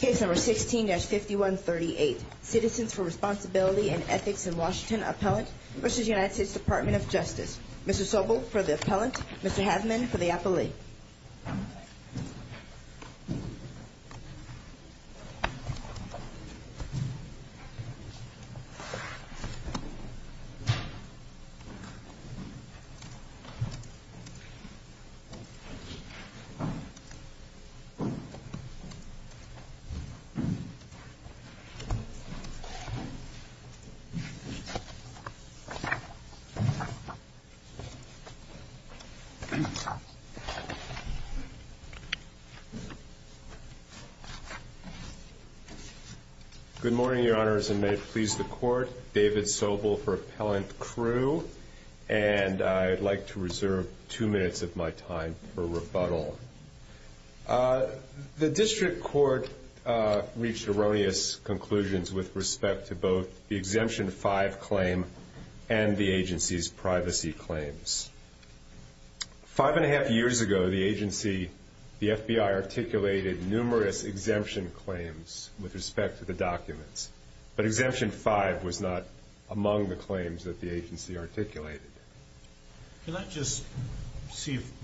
Case number 16-5138. Citizens for Responsibility and Ethics in Washington Appellant v. United States Department of Justice. Mrs. Sobel for the appellant. Mr. Havman for the appellee. Good morning, Your Honors, and may it please the Court. David Sobel for The District Court reached erroneous conclusions with respect to both the Exemption 5 claim and the agency's privacy claims. Five and a half years ago, the FBI articulated numerous exemption claims with respect to the documents, but Exemption 5 was not among the claims that the agency articulated. Can I just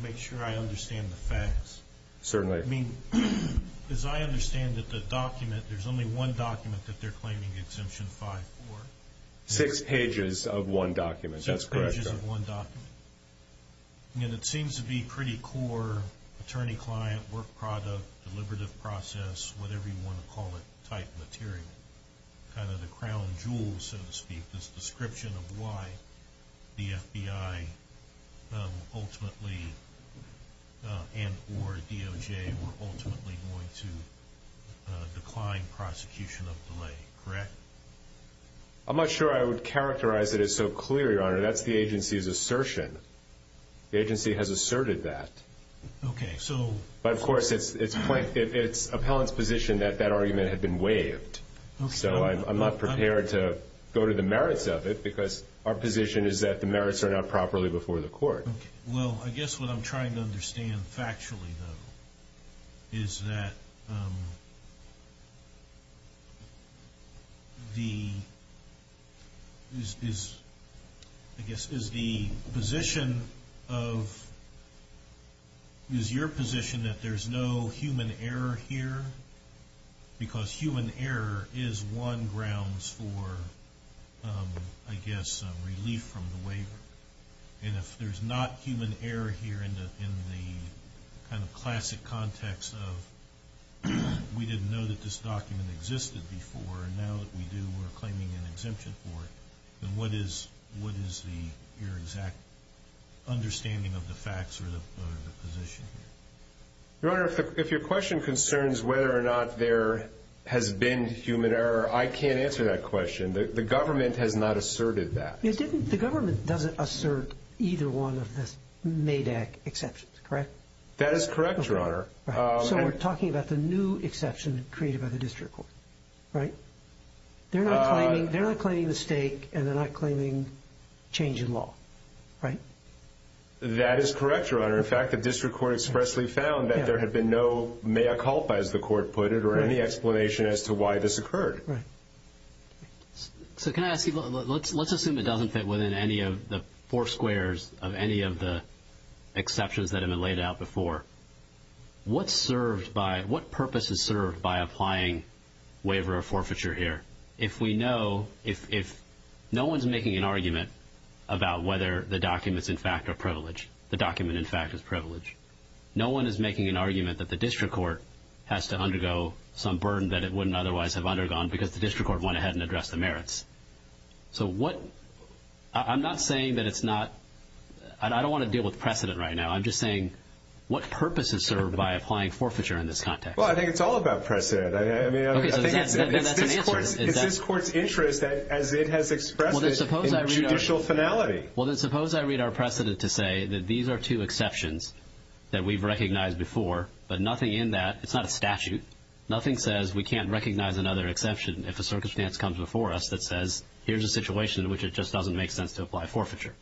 make sure I understand the facts? Certainly. I mean, as I understand it, the document, there's only one document that they're claiming Exemption 5 for? Six pages of one document. That's correct. Six pages of one document. And it seems to be pretty core, attorney-client, work product, deliberative process, whatever you want to call it, type material. Kind of the crown jewel, so to speak, this description of why the FBI ultimately, and or DOJ, were ultimately going to decline prosecution of delay, correct? I'm not sure I would characterize it as so clear, Your Honor. That's the agency's assertion. The agency has asserted that. Okay, so... But of course, it's appellant's position that that argument had been waived. So I'm not prepared to go to the merits of it because our position is that the merits are not properly before the court. Okay. Well, I guess what I'm trying to understand factually, though, is that the... I guess, is the position of... Is your position that there's no human error here? Because human error is one grounds for, I guess, relief from the waiver. And if there's not human error here in the kind of classic context of, we didn't know that this document existed before, and now that we do, we're claiming an exemption for it. Then what is your exact understanding of the facts or the position? Your Honor, if your question concerns whether or not there has been human error, I can't answer that because the government has not asserted that. It didn't... The government doesn't assert either one of the MADAC exceptions, correct? That is correct, Your Honor. So we're talking about the new exception created by the district court, right? They're not claiming the stake and they're not claiming change in law, right? That is correct, Your Honor. In fact, the district court expressly found that there had been no mea culpa, as the court put it, or any explanation as to why this occurred. Right. So can I ask you, let's assume it doesn't fit within any of the four squares of any of the exceptions that have been laid out before. What purpose is served by applying waiver or forfeiture here? If we know, if no one's making an argument about whether the documents, in fact, are privileged, the document, in fact, is privileged, no one is making an argument that the district court has to undergo some burden that it wouldn't otherwise have undergone because the district court went ahead and addressed the merits. So what... I'm not saying that it's not... I don't wanna deal with precedent right now. I'm just saying, what purpose is served by applying forfeiture in this context? Well, I think it's all about precedent. I mean, I think that's an answer. It's this court's interest as it has expressed it in a judicial finality. Well, then suppose I read our precedent to say that these are two exceptions that we've recognized before, but nothing in that, it's not a statute, nothing says we can't recognize another exception if a circumstance comes before us that says, here's a situation in which it just doesn't make sense to apply forfeiture.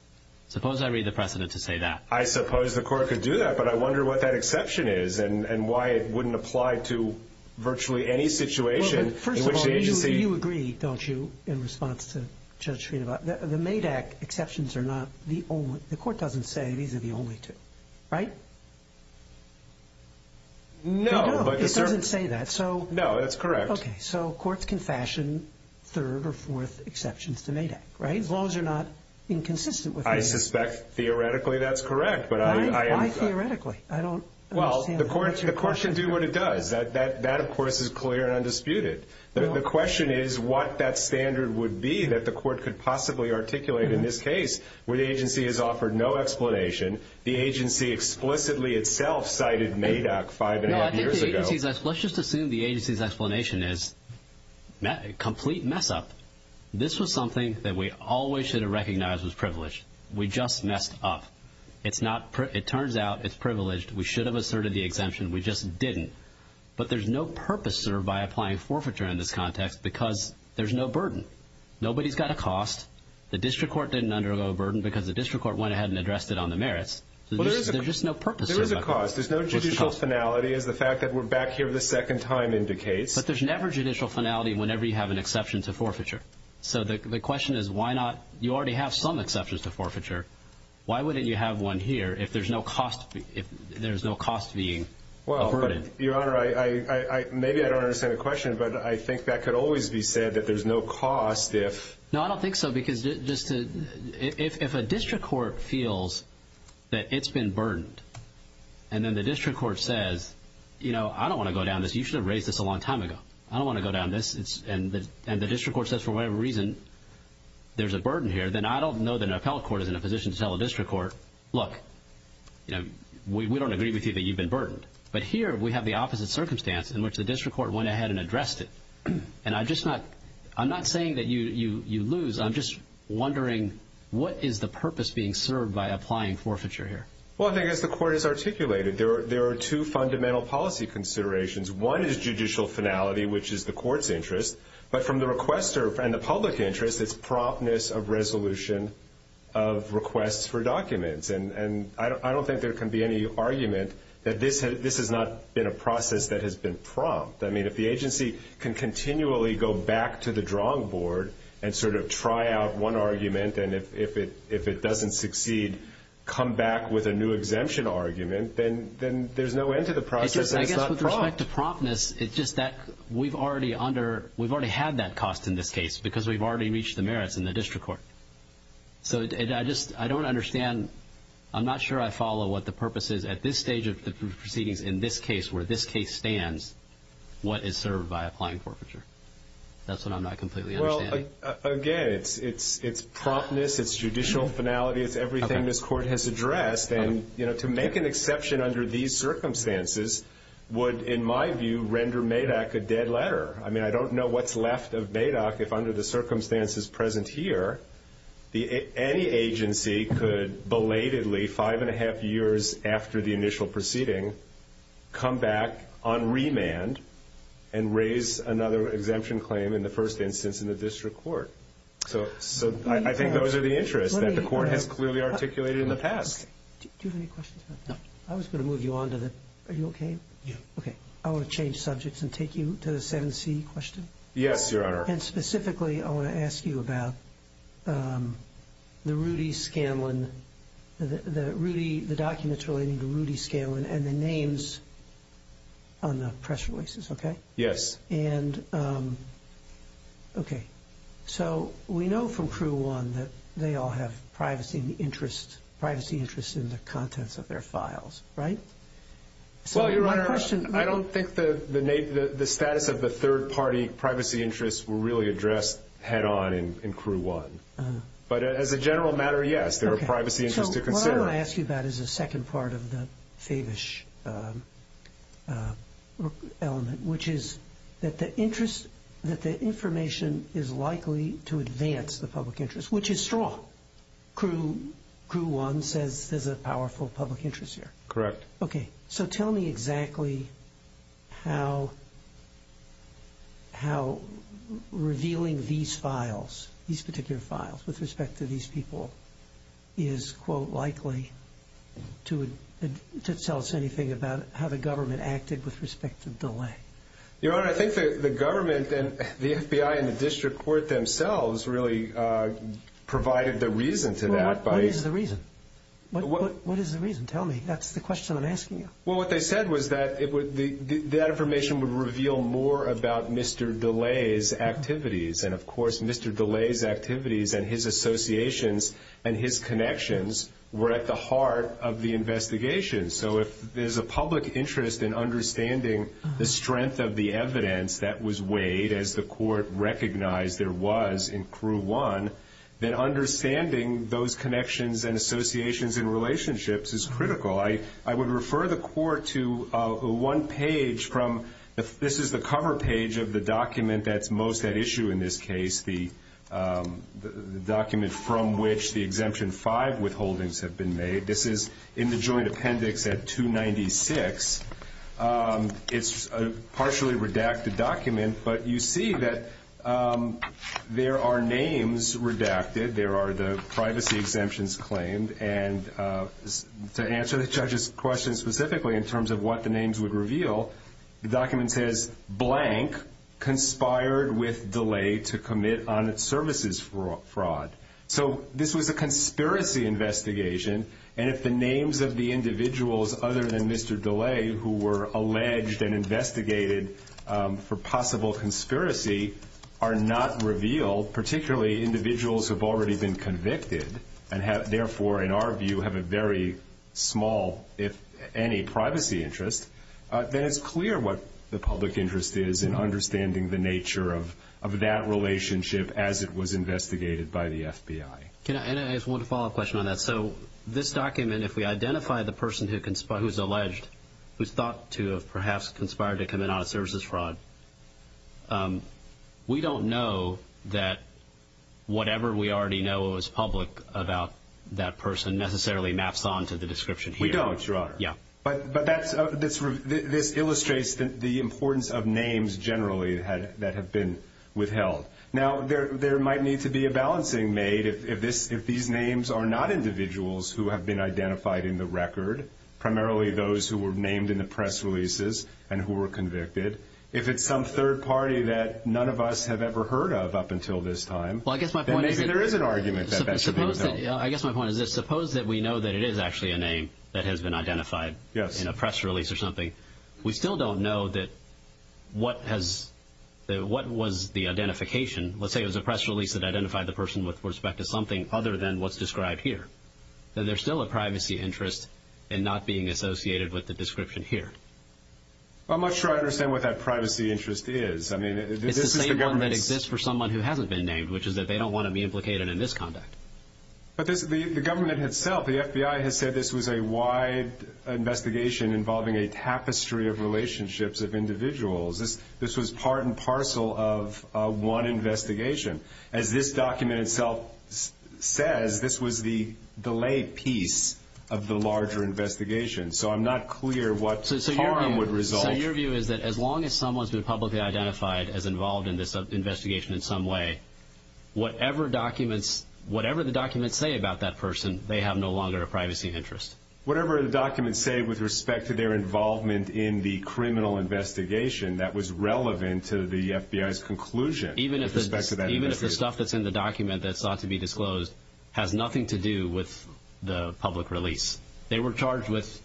Suppose I read the precedent to say that. I suppose the court could do that, but I wonder what that exception is and why it wouldn't apply to virtually any situation in which the agency... First of all, you agree, don't you, in response to Judge Srinivasa? The MADAC exceptions are not the only... The court doesn't say these are the only two, right? No, but the... It doesn't say that, so... No, that's correct. Okay, so courts can fashion third or fourth exceptions to MADAC, right, as long as they're not inconsistent with... I suspect theoretically that's correct, but I... Why theoretically? I don't... Well, the court should do what it does. That, of course, is clear and undisputed. The question is what that standard would be that the court could possibly articulate in this case, where the agency has offered no explanation, the agency explicitly itself cited MADAC five and a half years ago. No, I think the agency's explanation is complete mess up. This was something that we always should have recognized was privileged. We just messed up. It's not... It turns out it's privileged. We should have asserted the exemption. We just didn't. But there's no purpose served by applying forfeiture in this context because there's no burden. Nobody's got a cost. The district court didn't undergo a burden because the district court went ahead and addressed it on the merits. There's just no purpose served. There is a cost. There's no judicial finality as the fact that we're back here the second time indicates. But there's never judicial finality whenever you have an exception to forfeiture. So the question is, why not? You already have some exceptions to forfeiture. Why wouldn't you have one here if there's no cost? If there's no cost being... Well, Your Honor, maybe I don't understand the question, but I think that could always be said that there's no cost if... No, I don't think so. Because just to... If a district court feels that it's been burdened, and then the district court says, I don't wanna go down this. You should have raised this a long time ago. I don't wanna go down this. And the district court says, for whatever reason, there's a burden here, then I don't know that an appellate court is in a position to tell a district court, look, we don't agree with you that you've been burdened. But here we have the opposite circumstance in which the district court went ahead and addressed it. And I'm not saying that you lose. I'm just wondering what is the purpose being served by applying forfeiture here? Well, I think as the court has articulated, there are two fundamental policy considerations. One is judicial finality, which is the court's interest. But from the requester and the public interest, it's promptness of resolution of requests for documents. And I don't think there can be any argument that this has not been a process that has been prompt. If the agency can continually go back to the drawing board and try out one argument, and if it doesn't succeed, come back with a new exemption argument, then there's no end to the process and it's not prompt. I guess with respect to promptness, it's just that we've already under... We've already had that cost in this case because we've already reached the merits in the district court. So I don't understand. I'm not sure I follow what the purpose is at this stage of the proceedings in this case, where this case stands, what is served by applying forfeiture. That's what I'm not completely understanding. Well, again, it's promptness, it's judicial finality, it's everything this court has addressed. And to make an exception under these circumstances would, in my view, render MADOC a dead letter. I don't know what's left of MADOC if under the circumstances present here, any agency could belatedly, five and a half years after the initial proceeding, come back on remand and raise another exemption claim in the first instance in the district court. So I think those are the interests that the court has clearly articulated in the past. Do you have any questions about that? No. I was gonna move you on to the... Are you okay? Yeah. Okay. I wanna change subjects and take you to the 7C question. Yes, Your Honor. And specifically, I wanna ask you about the Rudy Scanlon... The documents relating to Rudy Scanlon. Okay. So we know from Crew One that they all have privacy interests in the contents of their files, right? Well, Your Honor, I don't think the status of the third party privacy interests were really addressed head on in Crew One. But as a general matter, yes, there are privacy interests to consider. So what I wanna ask you about is a second part of the Favish element, which is that the information is likely to advance the public interest, which is strong. Crew One says there's a powerful public interest here. Correct. Okay. So tell me exactly how revealing these files, these particular files with respect to these people is, quote, likely to tell us anything about how the government acted with respect to DeLay. Your Honor, I think the government and the FBI and the district court themselves really provided the reason to that by... What is the reason? What is the reason? Tell me. That's the question I'm asking you. Well, what they said was that that information would reveal more about Mr. DeLay's activities. And of course, Mr. DeLay's activities and his associations and his connections were at the heart of the investigation. So if there's a public interest in understanding the strength of the evidence that was weighed as the court recognized there was in Crew One, then understanding those connections and associations and relationships is critical. I would refer the court to one page from... This is the cover page of the document that's most at issue in this case, the document from which the exemption five withholdings have been made. This is in the joint appendix at 296. It's a partially redacted document, but you see that there are names redacted, there are the privacy exemptions claimed. And to answer the judge's question specifically in terms of what the names would reveal, the document says, blank, conspired with DeLay to commit on its services fraud. So this was a conspiracy investigation. And if the names of the individuals other than Mr. DeLay who were alleged and investigated for possible conspiracy are not revealed, particularly individuals who've already been convicted and have therefore, in our view, have a very small, if any, privacy interest, then it's clear what the public interest is in understanding the nature of that relationship as it was investigated by the FBI. And I just want to follow up a question on that. So this document, if we identify the person who's alleged, who's thought to have perhaps conspired to commit on its services fraud, we don't know that whatever we already know is public about that person necessarily maps on to the description here. We don't, Your Honor. Yeah. But this illustrates the importance of names generally that have been withheld. Now, there might need to be a balancing made if these names are not individuals who have been identified in the record, primarily those who were named in the press releases and who were convicted. If it's some third party that none of us have ever heard of up until this time, then maybe there is an argument that that should be withheld. I guess my point is this. Suppose that we know that it is actually a name that has been identified in a press release or something. We still don't know what was the identification. Let's say it was a press release that identified the person with respect to something other than what's described here. Then there's still a privacy interest in not being associated with the description here. I'm not sure I understand what that privacy interest is. It's the same one that exists for someone who hasn't been named, which is that they don't want to be implicated in this conduct. But the government itself, the FBI has said this was a wide investigation involving a tapestry of relationships of individuals. This was part and parcel of one investigation. As this document itself says, this was the delay piece of the larger investigation. So I'm not clear what harm would result. So your view is that as long as someone's been publicly identified as involved in this investigation in some way, whatever the documents say about that person, they have no longer a privacy interest? Whatever the documents say with respect to their involvement in the criminal investigation that was relevant to the FBI's conclusion. Even if the stuff that's in the document that's thought to be disclosed has nothing to do with the public release. They were charged with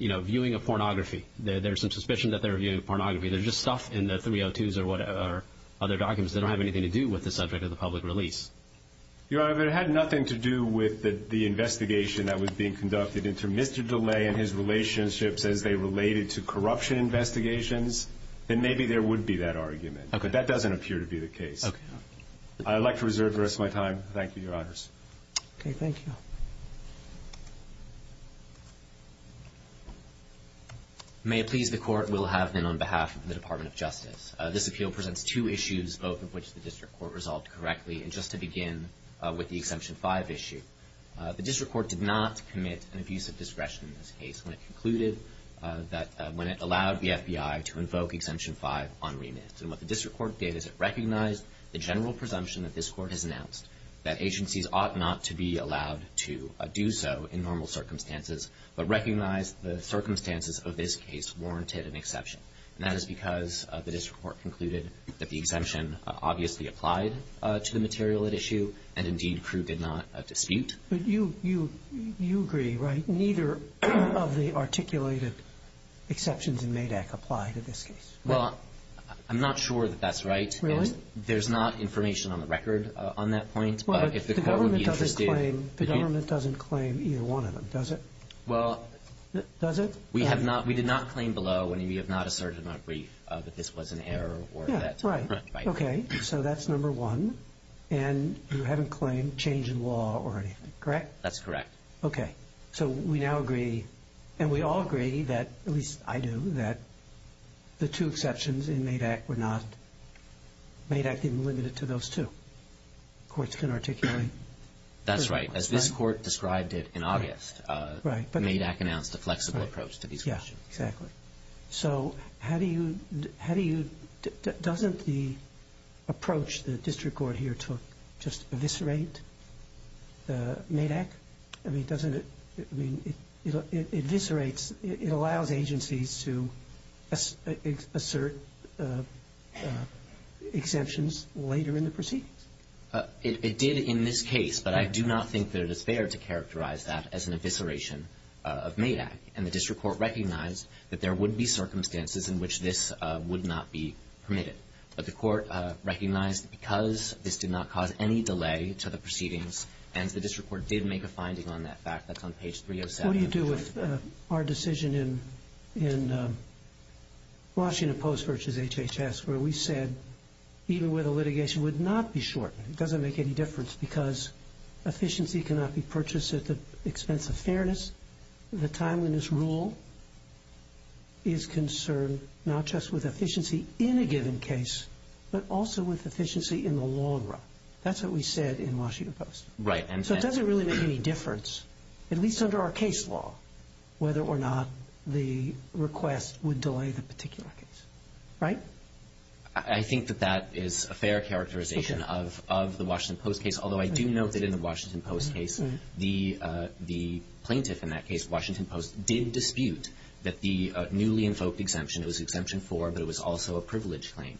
viewing a pornography. There's some suspicion that they're viewing pornography. There's just stuff in the 302s or other documents that don't have anything to do with the subject of the public release. Your Honor, if it had nothing to do with the investigation that was being conducted into Mr. DeLay and his relationships as they related to corruption investigations, then maybe there would be that argument. But that doesn't appear to be the case. I'd like to reserve the rest of my time. Thank you, Your Honors. Okay. Thank you. May it please the Court, we'll have then on behalf of the Department of Justice. This appeal presents two issues, both of which the District Court resolved correctly. And just to begin with the Exemption 5 issue, the District Court did not commit an abuse of discretion in this case when it concluded that when it allowed the FBI to invoke Exemption 5 on remit. And what the District Court did is it recognized the general presumption that this Court has announced that agencies ought not to be allowed to do so in normal circumstances, but recognized the circumstances of this case warranted an exception. And that is because the District Court concluded that the exemption obviously applied to the material at issue, and indeed Crew did not dispute. But you agree, right, neither of the articulated exceptions in MADAC apply to this case? Well, I'm not sure that that's right. Really? There's not information on the record on that point. Well, but the government doesn't claim either one of them, does it? Well... Does it? We did not claim below, and we have not asserted in our brief that this was an error or that... Yeah, right. Okay. So that's number one. And you haven't claimed change in law or anything, correct? That's correct. Okay. So we now agree, and we all agree that, at least I do, that the two MADAC didn't limit it to those two. Courts can articulate... That's right. As this Court described it in August, MADAC announced a flexible approach to these questions. Yeah, exactly. So how do you... Doesn't the approach the District Court here took just eviscerate MADAC? I mean, doesn't it... It eviscerates... It allows agencies to assert exemptions later in the proceedings? It did in this case, but I do not think that it is fair to characterize that as an evisceration of MADAC. And the District Court recognized that there would be circumstances in which this would not be permitted. But the Court recognized that because this did not cause any delay to the proceedings, and the District Court did make a finding on that fact. That's on page 307. What do you do with our decision in Washington Post versus HHS, where we said even where the litigation would not be shortened, it doesn't make any difference because efficiency cannot be purchased at the expense of fairness. The timeliness rule is concerned not just with efficiency in a given case, but also with efficiency in the long run. That's what we said in Washington Post. Right. So it doesn't really make any difference, at least under our case law, whether or not the request would delay the particular case. Right? I think that that is a fair characterization of the Washington Post case, although I do note that in the Washington Post case, the plaintiff in that case, Washington Post, did dispute that the newly invoked exemption, it was Exemption 4, but it was also a privilege claim,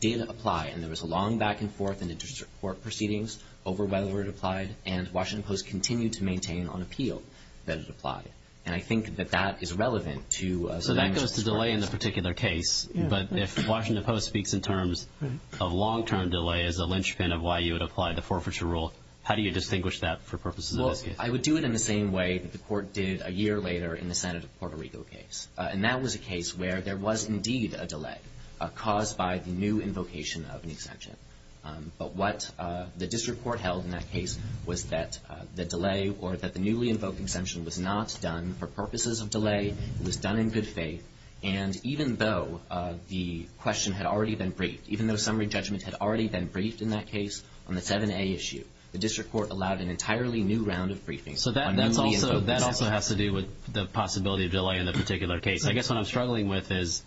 did apply. And there was a long back and forth in the District Court proceedings over whether it applied, and Washington Post continued to maintain on appeal that it applied. And I think that that is relevant to So that goes to delay in the particular case, but if Washington Post speaks in terms of long-term delay as a linchpin of why you would apply the forfeiture rule, how do you distinguish that for purposes of this case? Well, I would do it in the same way that the Court did a year later in the Senate of Puerto Rico case. And that was a case where there was indeed a delay caused by the new invocation of an exemption. But what the District Court held in that case was that the delay or that the newly invoked exemption was not done for purposes of delay. It was done in good faith. And even though the question had already been briefed, even though summary judgment had already been briefed in that case on the 7A issue, the District Court allowed an entirely new round of briefings. So that also has to do with the possibility of delay in the particular case. I guess what I'm struggling with is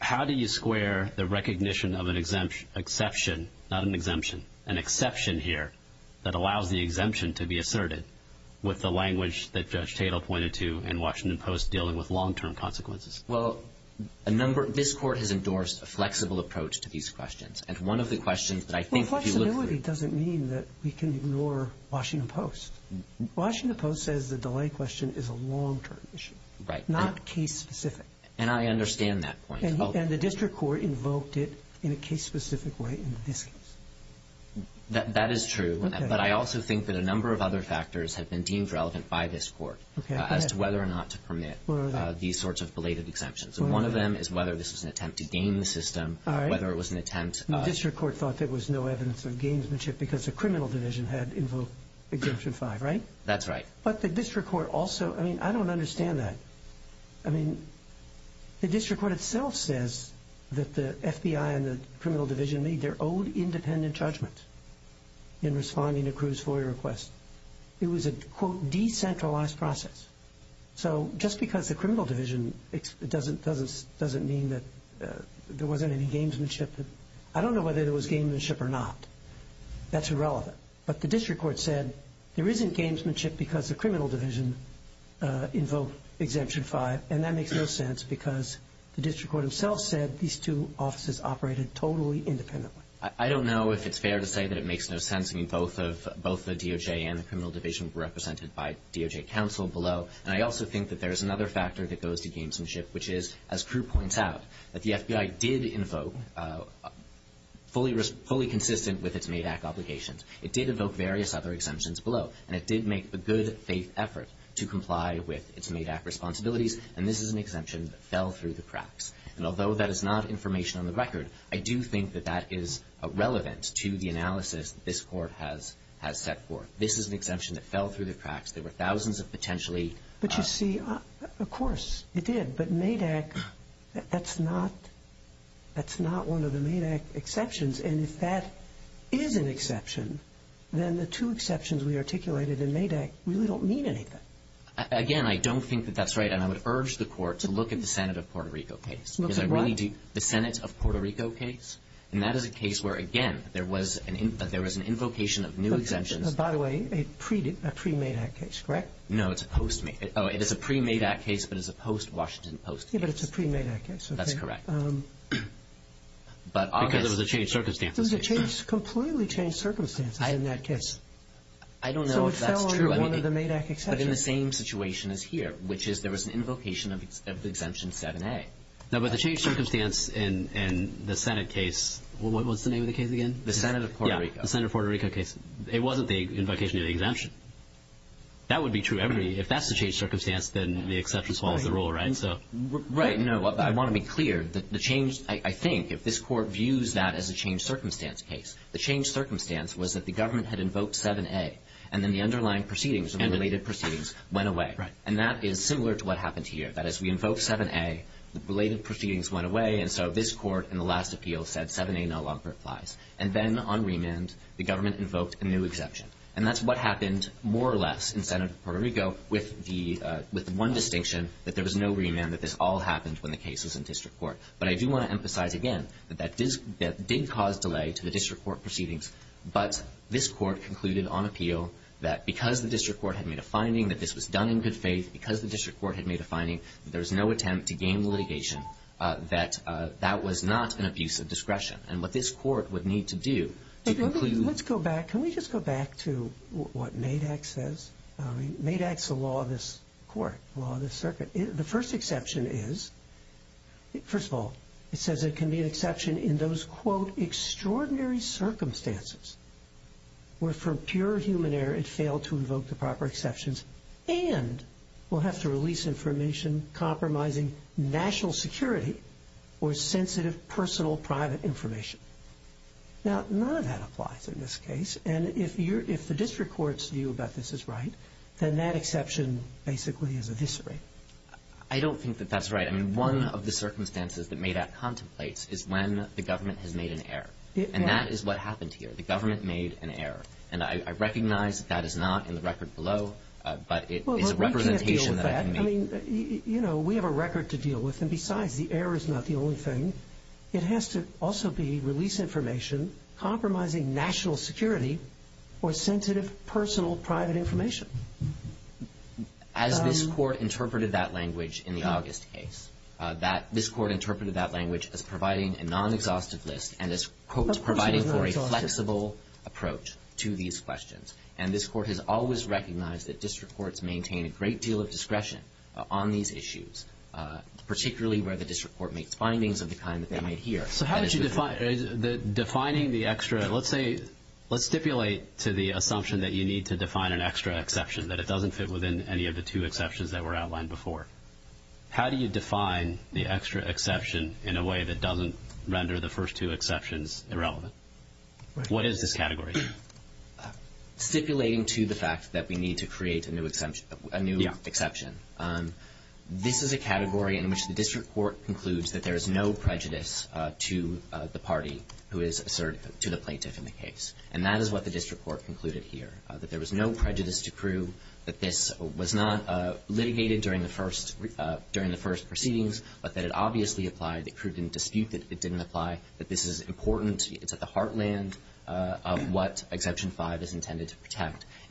how do you square the recognition of an exception, not an exemption, an exception here that allows the exemption to be asserted with the language that Judge Tatel pointed to in Washington Post dealing with long-term consequences? Well, this Court has endorsed a flexible approach to these questions. And one of the questions that I think if you look through Well, flexibility doesn't mean that we can ignore Washington Post. Washington Post says the delay question is a long-term issue. Right. Not case-specific. And I understand that point. And the District Court invoked it in a case-specific way in this case. That is true. But I also think that a number of other factors have been deemed relevant by this Court as to whether or not to permit these sorts of belated exemptions. And one of them is whether this was an attempt to game the system, whether it was an attempt The District Court thought there was no evidence of gamesmanship because the That's right. But the District Court also, I mean, I don't understand that. I mean, the District Court itself says that the FBI and the criminal division made their own independent judgment in responding to Cruz's FOIA request. It was a, quote, decentralized process. So just because the criminal division doesn't mean that there wasn't any gamesmanship, I don't know whether there was gamesmanship or not. That's irrelevant. But the District Court said there isn't gamesmanship because the criminal division invoked Exemption 5. And that makes no sense because the District Court itself said these two offices operated totally independently. I don't know if it's fair to say that it makes no sense. I mean, both of the DOJ and the criminal division were represented by DOJ counsel below. And I also think that there is another factor that goes to gamesmanship, which is, as Cruz points out, that the FBI did invoke, fully consistent with its MADAC obligations. It did evoke various other exemptions below. And it did make the good faith effort to comply with its MADAC responsibilities. And this is an exemption that fell through the cracks. And although that is not information on the record, I do think that that is relevant to the analysis this Court has set forth. This is an exemption that fell through the cracks. There were thousands of potentially... But you see, of course it did. But MADAC, that's not one of the MADAC exceptions. And if that is an exception, then the two exceptions we articulated in MADAC really don't mean anything. Again, I don't think that that's right. And I would urge the Court to look at the Senate of Puerto Rico case. Because I really do... The Senate of Puerto Rico case? And that is a case where, again, there was an invocation of new exemptions. By the way, a pre-MADAC case, correct? No, it's a post-MADAC. Oh, it is a pre-MADAC case, but it's a post-Washington post-case. Yeah, but it's a pre-MADAC case. That's correct. But obviously... Because it was a changed circumstance. It was a completely changed circumstance in that case. I don't know if that's true. So it fell under one of the MADAC exceptions. But in the same situation as here, which is there was an invocation of Exemption 7A. No, but the changed circumstance in the Senate case... What's the name of the case again? The Senate of Puerto Rico. Yeah, the Senate of Puerto Rico case. It wasn't the invocation of the exemption. That would be true. If that's the changed circumstance, then the exception follows the rule, right? Right. No, I want to be clear. The change, I think, if this Court views that as a changed circumstance case, the changed circumstance was that the government had invoked 7A, and then the underlying proceedings and related proceedings went away. Right. And that is similar to what happened here. That is, we invoked 7A, the related proceedings went away, and so this Court in the last appeal said 7A no longer applies. And then on remand, the government invoked a new exception. And that's what happened more or less in the Senate of Puerto Rico with one distinction, that there was no remand, that this all happened when the case was in district court. But I do want to emphasize again that that did cause delay to the district court proceedings, but this Court concluded on appeal that because the district court had made a finding that this was done in good faith, because the district court had made a finding that there was no attempt to gain litigation, that that was not an abuse of discretion. And what this Court would need to do to conclude... Let's go back. Can we just go back to what MADAC says? MADAC is the law of this Court, the law of this circuit. The first exception is... First of all, it says it can be an exception in those, quote, extraordinary circumstances where, for pure human error, it failed to invoke the proper exceptions and will have to release information compromising national security or sensitive personal private information. Now, none of that applies in this case. And if the district court's view about this is right, then that exception basically is eviscerated. I don't think that that's right. I mean, one of the circumstances that MADAC contemplates is when the government has made an error. And that is what happened here. The government made an error. And I recognize that that is not in the record below, but it is a representation that I can make. Well, we can't deal with that. I mean, you know, we have a record to deal with. And besides, the error is not the only thing. It has to also be release information compromising national security or sensitive personal private information. As this court interpreted that language in the August case, this court interpreted that language as providing a non-exhaustive list and as, quote, providing for a flexible approach to these questions. And this court has always recognized that district courts maintain a great deal of discretion on these issues, particularly where the district court makes findings of the kind that they might hear. So how did you define the extra? Let's stipulate to the assumption that you need to define an extra exception, that it doesn't fit within any of the two exceptions that were outlined before. How do you define the extra exception in a way that doesn't render the first two exceptions irrelevant? What is this category? Stipulating to the fact that we need to create a new exception. This is a category in which the district court concludes that there is no prejudice to the party who is assertive to the plaintiff in the case. And that is what the district court concluded here, that there was no prejudice to crew, that this was not litigated during the first proceedings, but that it obviously applied. The crew didn't dispute that it didn't apply, that this is important.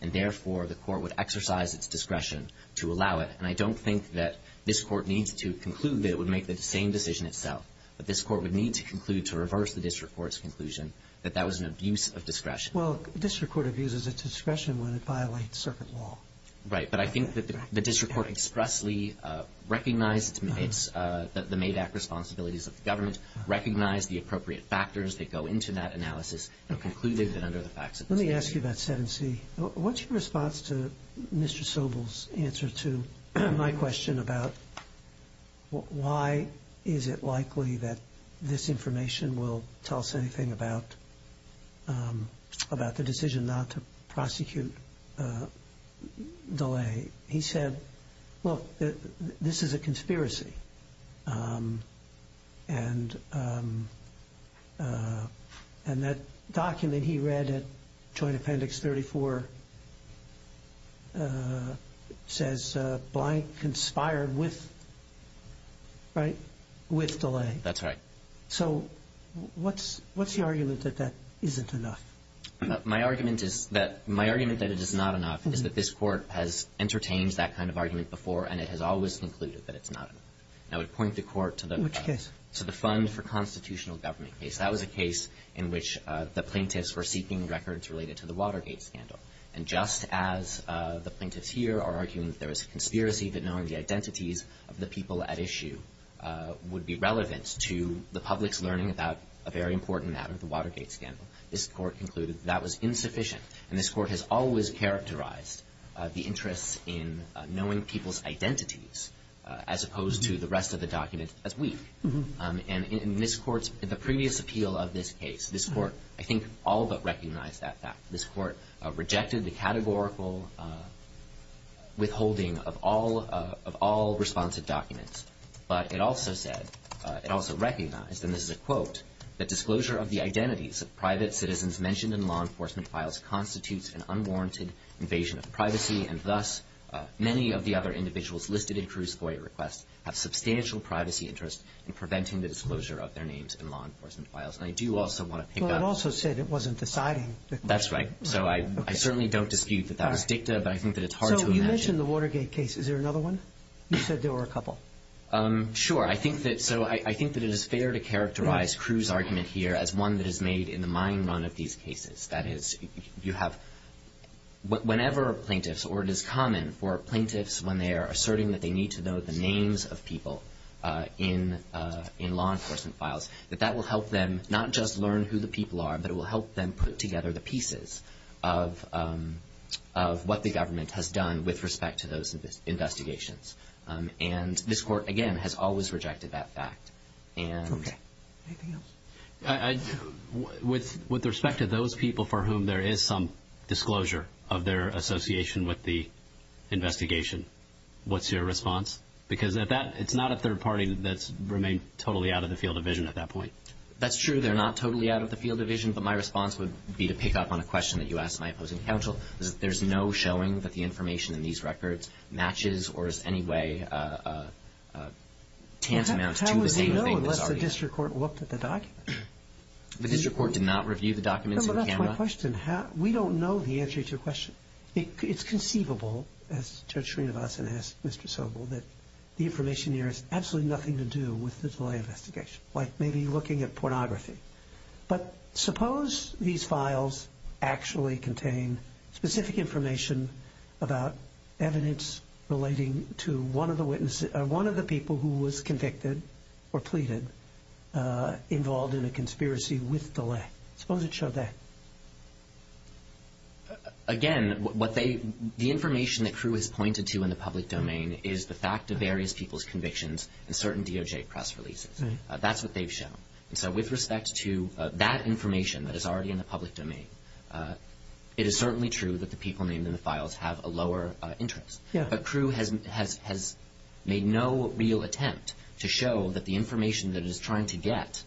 And therefore, the court would exercise its discretion to allow it. And I don't think that this court needs to conclude that it would make the same decision itself. But this court would need to conclude to reverse the district court's conclusion that that was an abuse of discretion. Well, district court abuses its discretion when it violates circuit law. Right. But I think that the district court expressly recognized the MAVAC responsibilities of the government, and concluded that under the facts of the statute. Let me ask you about 7C. What's your response to Mr. Sobel's answer to my question about why is it likely that this information will tell us anything about the decision not to prosecute DeLay? And that document he read at Joint Appendix 34 says, blank, conspired with, right, with DeLay. That's right. So what's the argument that that isn't enough? My argument that it is not enough is that this court has entertained that kind of argument before, and it has always concluded that it's not enough. And I would point the court to the fund for constitutional government case. That was a case in which the plaintiffs were seeking records related to the Watergate scandal. And just as the plaintiffs here are arguing that there is a conspiracy that knowing the identities of the people at issue would be relevant to the public's learning about a very important matter, the Watergate scandal, this court concluded that that was insufficient. And this court has always characterized the interest in knowing people's identities as opposed to the rest of the documents as weak. And in this court's previous appeal of this case, this court, I think, all but recognized that fact. This court rejected the categorical withholding of all responsive documents. But it also said, it also recognized, and this is a quote, that disclosure of the identities of private citizens mentioned in law enforcement files constitutes an unwarranted invasion of privacy and thus many of the other individuals listed in Crewe's FOIA requests have substantial privacy interests in preventing the disclosure of their names in law enforcement files. And I do also want to pick up... Well, it also said it wasn't deciding. That's right. So I certainly don't dispute that that was dicta, but I think that it's hard to imagine... So you mentioned the Watergate case. Is there another one? You said there were a couple. Sure. So I think that it is fair to characterize Crewe's argument here as one that is made in the mind run of these cases. That is, you have... Whenever plaintiffs, or it is common for plaintiffs when they are asserting that they need to know the names of people in law enforcement files, that that will help them not just learn who the people are, but it will help them put together the pieces of what the government has done with respect to those investigations. And this court, again, has always rejected that fact. Okay. Anything else? With respect to those people for whom there is some disclosure of their association with the investigation, what's your response? Because at that, it's not a third party that's remained totally out of the field of vision at that point. That's true. They're not totally out of the field of vision, but my response would be to pick up on a question that you asked my opposing counsel. There's no showing that the information in these records matches or is in any way a tantamount to the same thing... The district court looked at the documents. The district court did not review the documents on camera? No, but that's my question. We don't know the answer to your question. It's conceivable, as Judge Srinivasan asked Mr. Sobel, that the information here has absolutely nothing to do with the delay investigation, like maybe looking at pornography. But suppose these files actually contain specific information about evidence relating to one of the people who was convicted or pleaded involved in a conspiracy with DeLay. Suppose it showed that. Again, the information that Crewe has pointed to in the public domain is the fact of various people's convictions and certain DOJ press releases. That's what they've shown. So with respect to that information that is already in the public domain, it is certainly true that the people named in the files have a lower interest. But Crewe has made no real attempt to show that the information that it is trying to get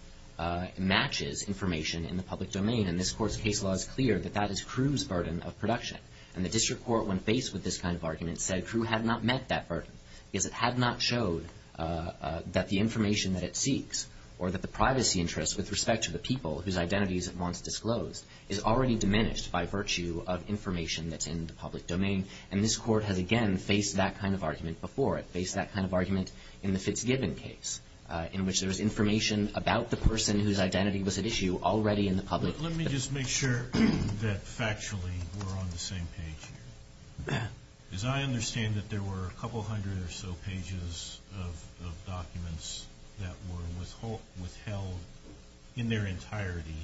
matches information in the public domain. And this court's case law is clear that that is Crewe's burden of production. And the district court, when faced with this kind of argument, said Crewe had not met that burden because it had not showed that the information that it seeks or that the privacy interests with respect to the people whose identities it wants disclosed is already diminished by virtue of information that's in the public domain. And this court has, again, faced that kind of argument before it, faced that kind of argument in the Fitzgibbon case, in which there was information about the person whose identity was at issue already in the public. Let me just make sure that factually we're on the same page here. As I understand it, there were a couple hundred or so pages of documents that were withheld in their entirety,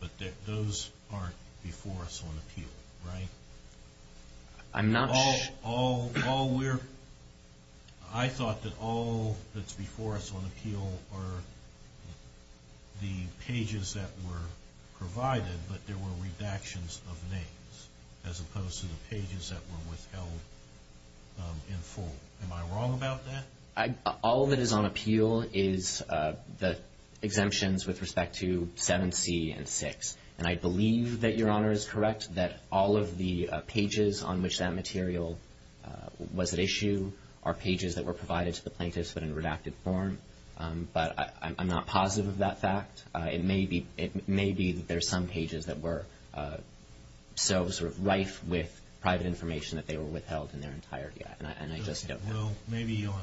but those aren't before us on appeal, right? I'm not sure. I thought that all that's before us on appeal are the pages that were provided, but there were redactions of names as opposed to the pages that were withheld in full. Am I wrong about that? All that is on appeal is the exemptions with respect to 7C and 6. And I believe that Your Honor is correct that all of the pages on which that material was at issue are pages that were provided to the plaintiffs, but in redacted form. But I'm not positive of that fact. It may be that there are some pages that were so sort of rife with private information that they were withheld in their entirety, and I just don't know. Well, maybe on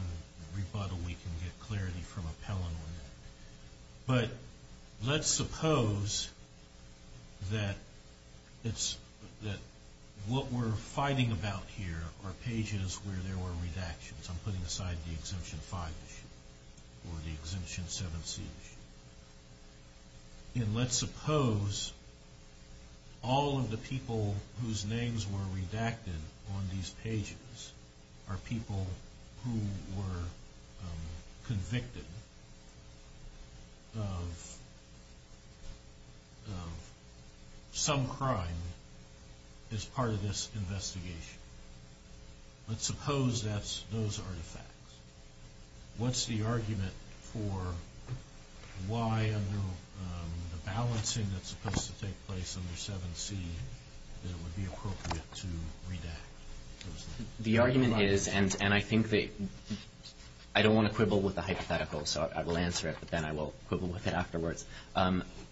rebuttal we can get clarity from appellant on that. But let's suppose that what we're fighting about here are pages where there were redactions. I'm putting aside the Exemption 5 issue or the Exemption 7C issue. And let's suppose all of the people whose names were redacted on these pages are people who were convicted of some crime as part of this investigation. Let's suppose that's those artifacts. What's the argument for why under the balancing that's supposed to take place under 7C that it would be appropriate to redact those names? The argument is, and I think that I don't want to quibble with the hypothetical, so I will answer it, but then I will quibble with it afterwards.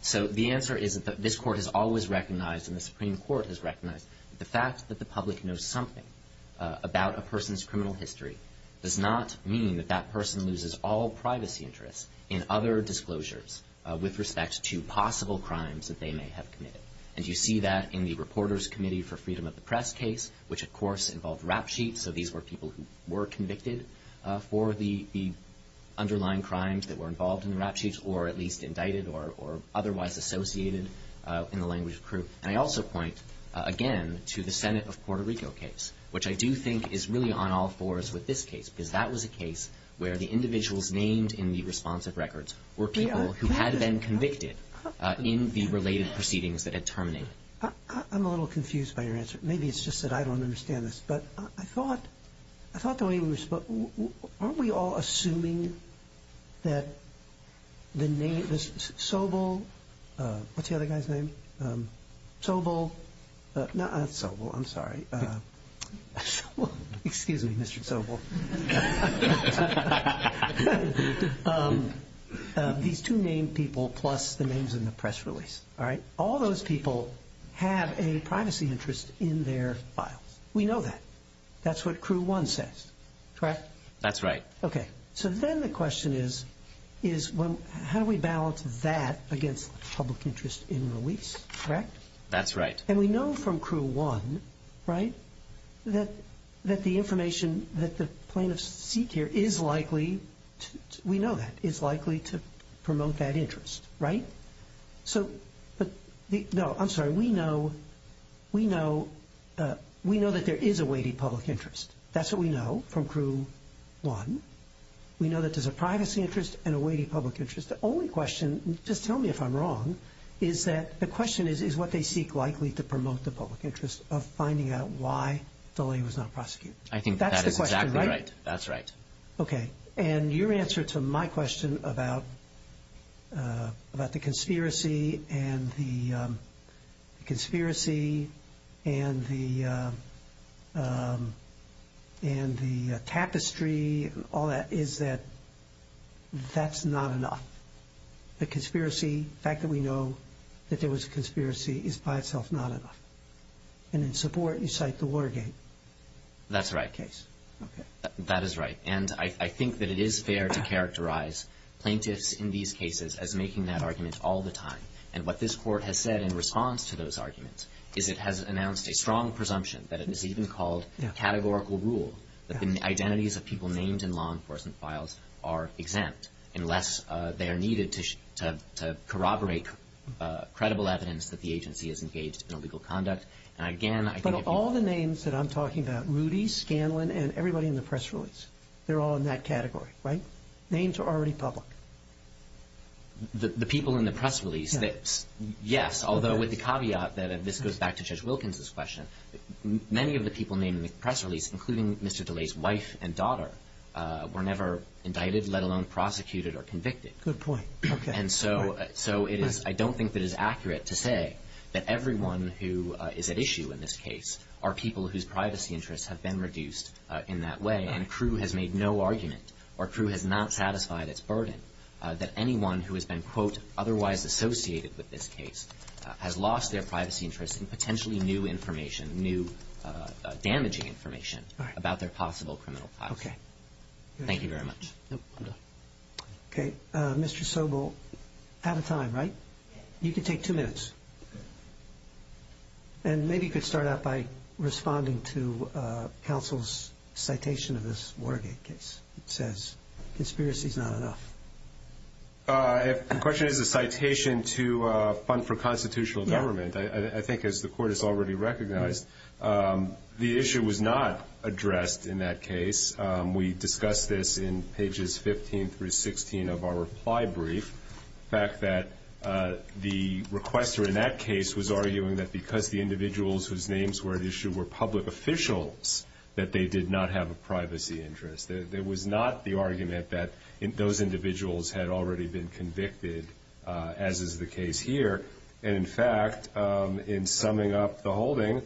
So the answer is that this Court has always recognized and the Supreme Court has recognized that the fact that the public knows something about a person's criminal history does not mean that that person loses all privacy interests in other disclosures with respect to possible crimes that they may have committed. And you see that in the Reporters Committee for Freedom of the Press case, which of course involved rap sheets, so these were people who were convicted for the underlying crimes that were involved in the rap sheets or at least indicted or otherwise associated in the language of proof. And I also point, again, to the Senate of Puerto Rico case, which I do think is really on all fours with this case because that was a case where the individuals named in the responsive records were people who had been convicted in the related proceedings that had terminated. I'm a little confused by your answer. Maybe it's just that I don't understand this. But I thought the way we were supposed to – aren't we all assuming that the name – Sobel – what's the other guy's name? Sobel – no, it's Sobel, I'm sorry. Excuse me, Mr. Sobel. These two named people plus the names in the press release, all right? Have a privacy interest in their files. We know that. That's what Crew 1 says, correct? That's right. Okay. So then the question is how do we balance that against public interest in release, correct? That's right. And we know from Crew 1, right, that the information that the plaintiffs seek here is likely – we know that – is likely to promote that interest, right? So – no, I'm sorry. We know that there is a weighty public interest. That's what we know from Crew 1. We know that there's a privacy interest and a weighty public interest. The only question – just tell me if I'm wrong – is that the question is what they seek likely to promote the public interest of finding out why DeLay was not prosecuted. I think that is exactly right. That's the question, right? That's right. Yes. Okay. And your answer to my question about the conspiracy and the tapestry and all that is that that's not enough. The conspiracy – the fact that we know that there was a conspiracy is by itself not enough. And in support, you cite the Watergate case. That's right. Okay. That is right. And I think that it is fair to characterize plaintiffs in these cases as making that argument all the time. And what this Court has said in response to those arguments is it has announced a strong presumption that it is even called categorical rule that the identities of people named in law enforcement files are exempt unless they are needed to corroborate credible evidence that the agency is engaged in illegal conduct. But all the names that I'm talking about, Rudy, Scanlon, and everybody in the press release, they're all in that category, right? Names are already public. The people in the press release, yes, although with the caveat that this goes back to Judge Wilkins' question, many of the people named in the press release, including Mr. DeLay's wife and daughter, were never indicted, let alone prosecuted or convicted. Good point. And so I don't think it is accurate to say that everyone who is at issue in this case are people whose privacy interests have been reduced in that way, and Crewe has made no argument or Crewe has not satisfied its burden that anyone who has been, quote, otherwise associated with this case has lost their privacy interests in potentially new information, new damaging information about their possible criminal past. Okay. Thank you very much. Okay. Mr. Sobel, out of time, right? You can take two minutes. And maybe you could start out by responding to counsel's citation of this Watergate case. It says, conspiracy is not enough. The question is a citation to fund for constitutional government. I think, as the Court has already recognized, the issue was not addressed in that case. We discussed this in pages 15 through 16 of our reply brief, the fact that the requester in that case was arguing that because the individuals whose names were at issue were public officials, that they did not have a privacy interest. It was not the argument that those individuals had already been convicted, as is the case here. And, in fact, in summing up the holding,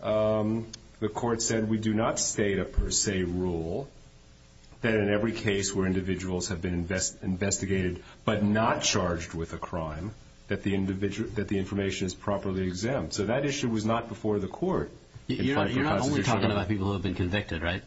the Court said we do not state a per se rule that in every case where individuals have been investigated but not charged with a crime that the information is properly exempt. So that issue was not before the Court. You're not only talking about people who have been convicted, right?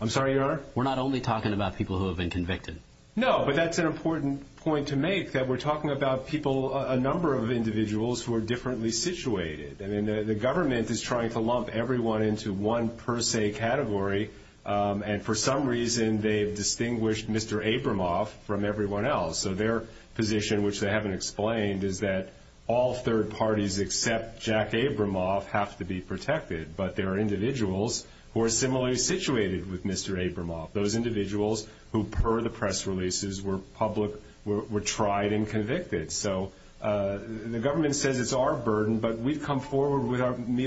I'm sorry, Your Honor? We're not only talking about people who have been convicted. No, but that's an important point to make, that we're talking about people, a number of individuals who are differently situated. I mean, the government is trying to lump everyone into one per se category, and for some reason they've distinguished Mr. Abramoff from everyone else. So their position, which they haven't explained, is that all third parties except Jack Abramoff have to be protected, but there are individuals who are similarly situated with Mr. Abramoff, those individuals who, per the press releases, were tried and convicted. So the government says it's our burden, but we've come forward with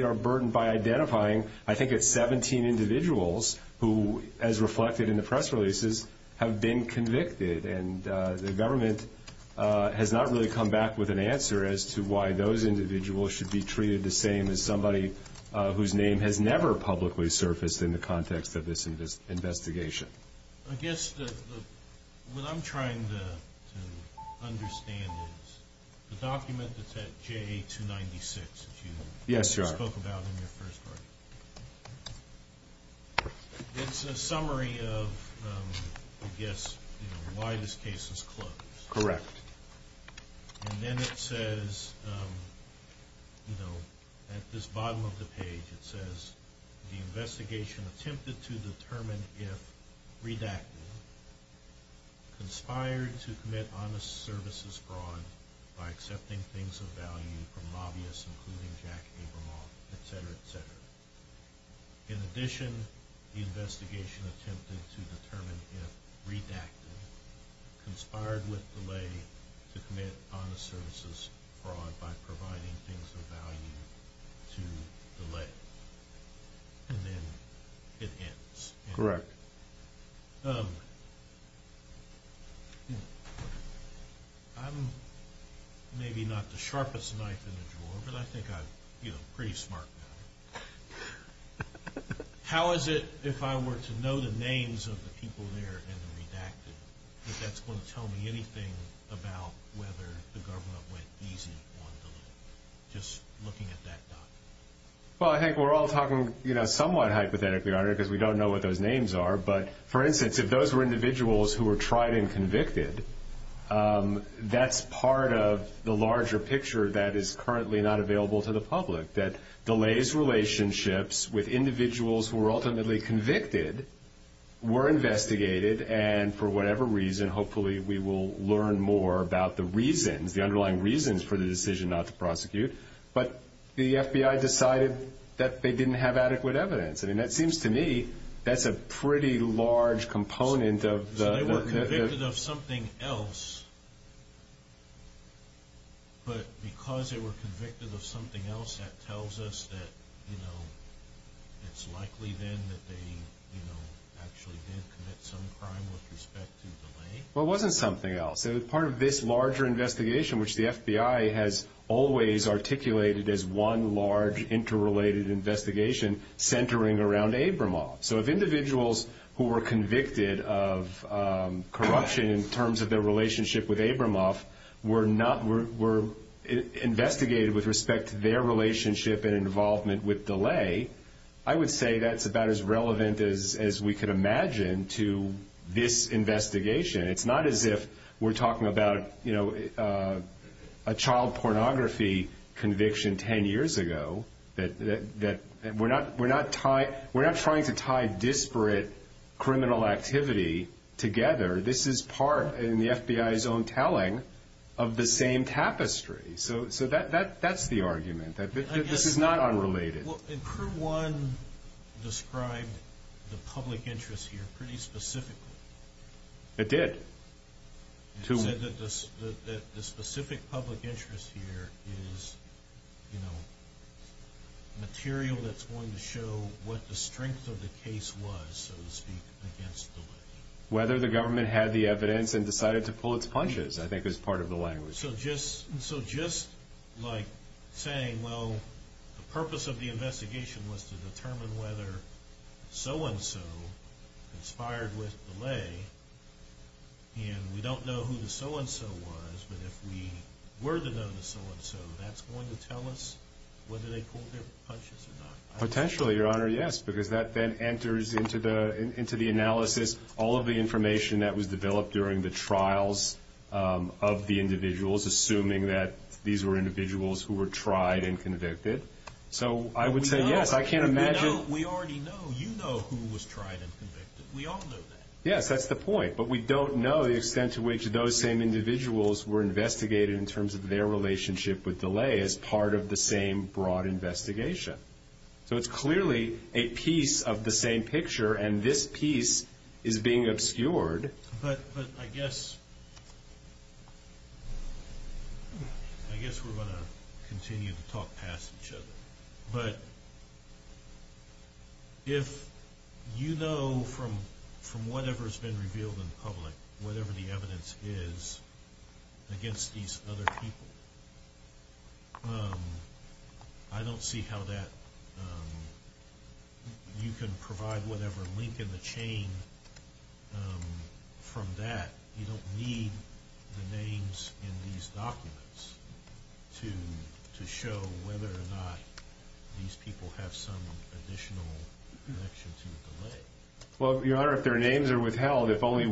our burden by identifying I think it's 17 individuals who, as reflected in the press releases, have been convicted, and the government has not really come back with an answer as to why those individuals should be treated the same as somebody whose name has never publicly surfaced in the context of this investigation. I guess what I'm trying to understand is the document that's at JA-296 that you spoke about in your first part, it's a summary of, I guess, why this case was closed. Correct. And then it says, at this bottom of the page, it says, the investigation attempted to determine if redacted, conspired to commit honest services fraud by accepting things of value from lobbyists including Jack Abramoff, etc., etc. In addition, the investigation attempted to determine if redacted, conspired with Delay to commit honest services fraud by providing things of value to Delay. And then it ends. Correct. I'm maybe not the sharpest knife in the drawer, but I think I'm a pretty smart guy. How is it, if I were to know the names of the people there in the redacted, that that's going to tell me anything about whether the government went easy on Delay, just looking at that document? Well, I think we're all talking somewhat hypothetically on it because we don't know what those names are. But, for instance, if those were individuals who were tried and convicted, that's part of the larger picture that is currently not available to the public, that Delay's relationships with individuals who were ultimately convicted were investigated, and for whatever reason, hopefully we will learn more about the reasons, the underlying reasons for the decision not to prosecute. But the FBI decided that they didn't have adequate evidence. I mean, that seems to me that's a pretty large component of the – So they were convicted of something else, but because they were convicted of something else, that tells us that it's likely then that they actually did commit some crime with respect to Delay? Well, it wasn't something else. Part of this larger investigation, which the FBI has always articulated as one large interrelated investigation centering around Abramoff. So if individuals who were convicted of corruption in terms of their relationship with Abramoff were investigated with respect to their relationship and involvement with Delay, I would say that's about as relevant as we could imagine to this investigation. It's not as if we're talking about a child pornography conviction 10 years ago. We're not trying to tie disparate criminal activity together. This is part, in the FBI's own telling, of the same tapestry. So that's the argument, that this is not unrelated. Well, and Crew 1 described the public interest here pretty specifically. It did. It said that the specific public interest here is material that's going to show what the strength of the case was, so to speak, against Delay. Whether the government had the evidence and decided to pull its punches, I think, is part of the language. So just like saying, well, the purpose of the investigation was to determine whether so-and-so conspired with Delay. And we don't know who the so-and-so was, but if we were to know the so-and-so, that's going to tell us whether they pulled their punches or not. Potentially, Your Honor, yes, because that then enters into the analysis all of the information that was developed during the trials of the individuals, assuming that these were individuals who were tried and convicted. So I would say yes. I can't imagine... We already know. You know who was tried and convicted. We all know that. Yes, that's the point, but we don't know the extent to which those same individuals were investigated in terms of their relationship with Delay as part of the same broad investigation. So it's clearly a piece of the same picture, and this piece is being obscured. But I guess we're going to continue to talk past each other. But if you know from whatever's been revealed in public, whatever the evidence is against these other people, I don't see how you can provide whatever link in the chain from that. You don't need the names in these documents to show whether or not these people have some additional connection to Delay. Well, Your Honor, if their names are withheld, if only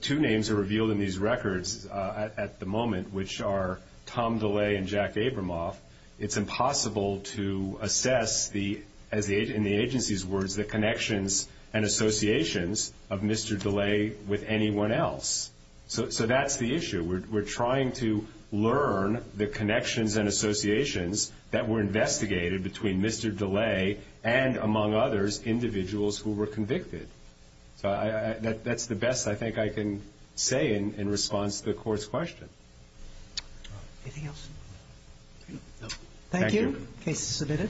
two names are revealed in these records at the moment which are Tom Delay and Jack Abramoff, it's impossible to assess, in the agency's words, the connections and associations of Mr. Delay with anyone else. So that's the issue. We're trying to learn the connections and associations that were investigated between Mr. Delay and, among others, individuals who were convicted. So that's the best I think I can say in response to the Court's question. Anything else? Thank you. Thank you. Case submitted.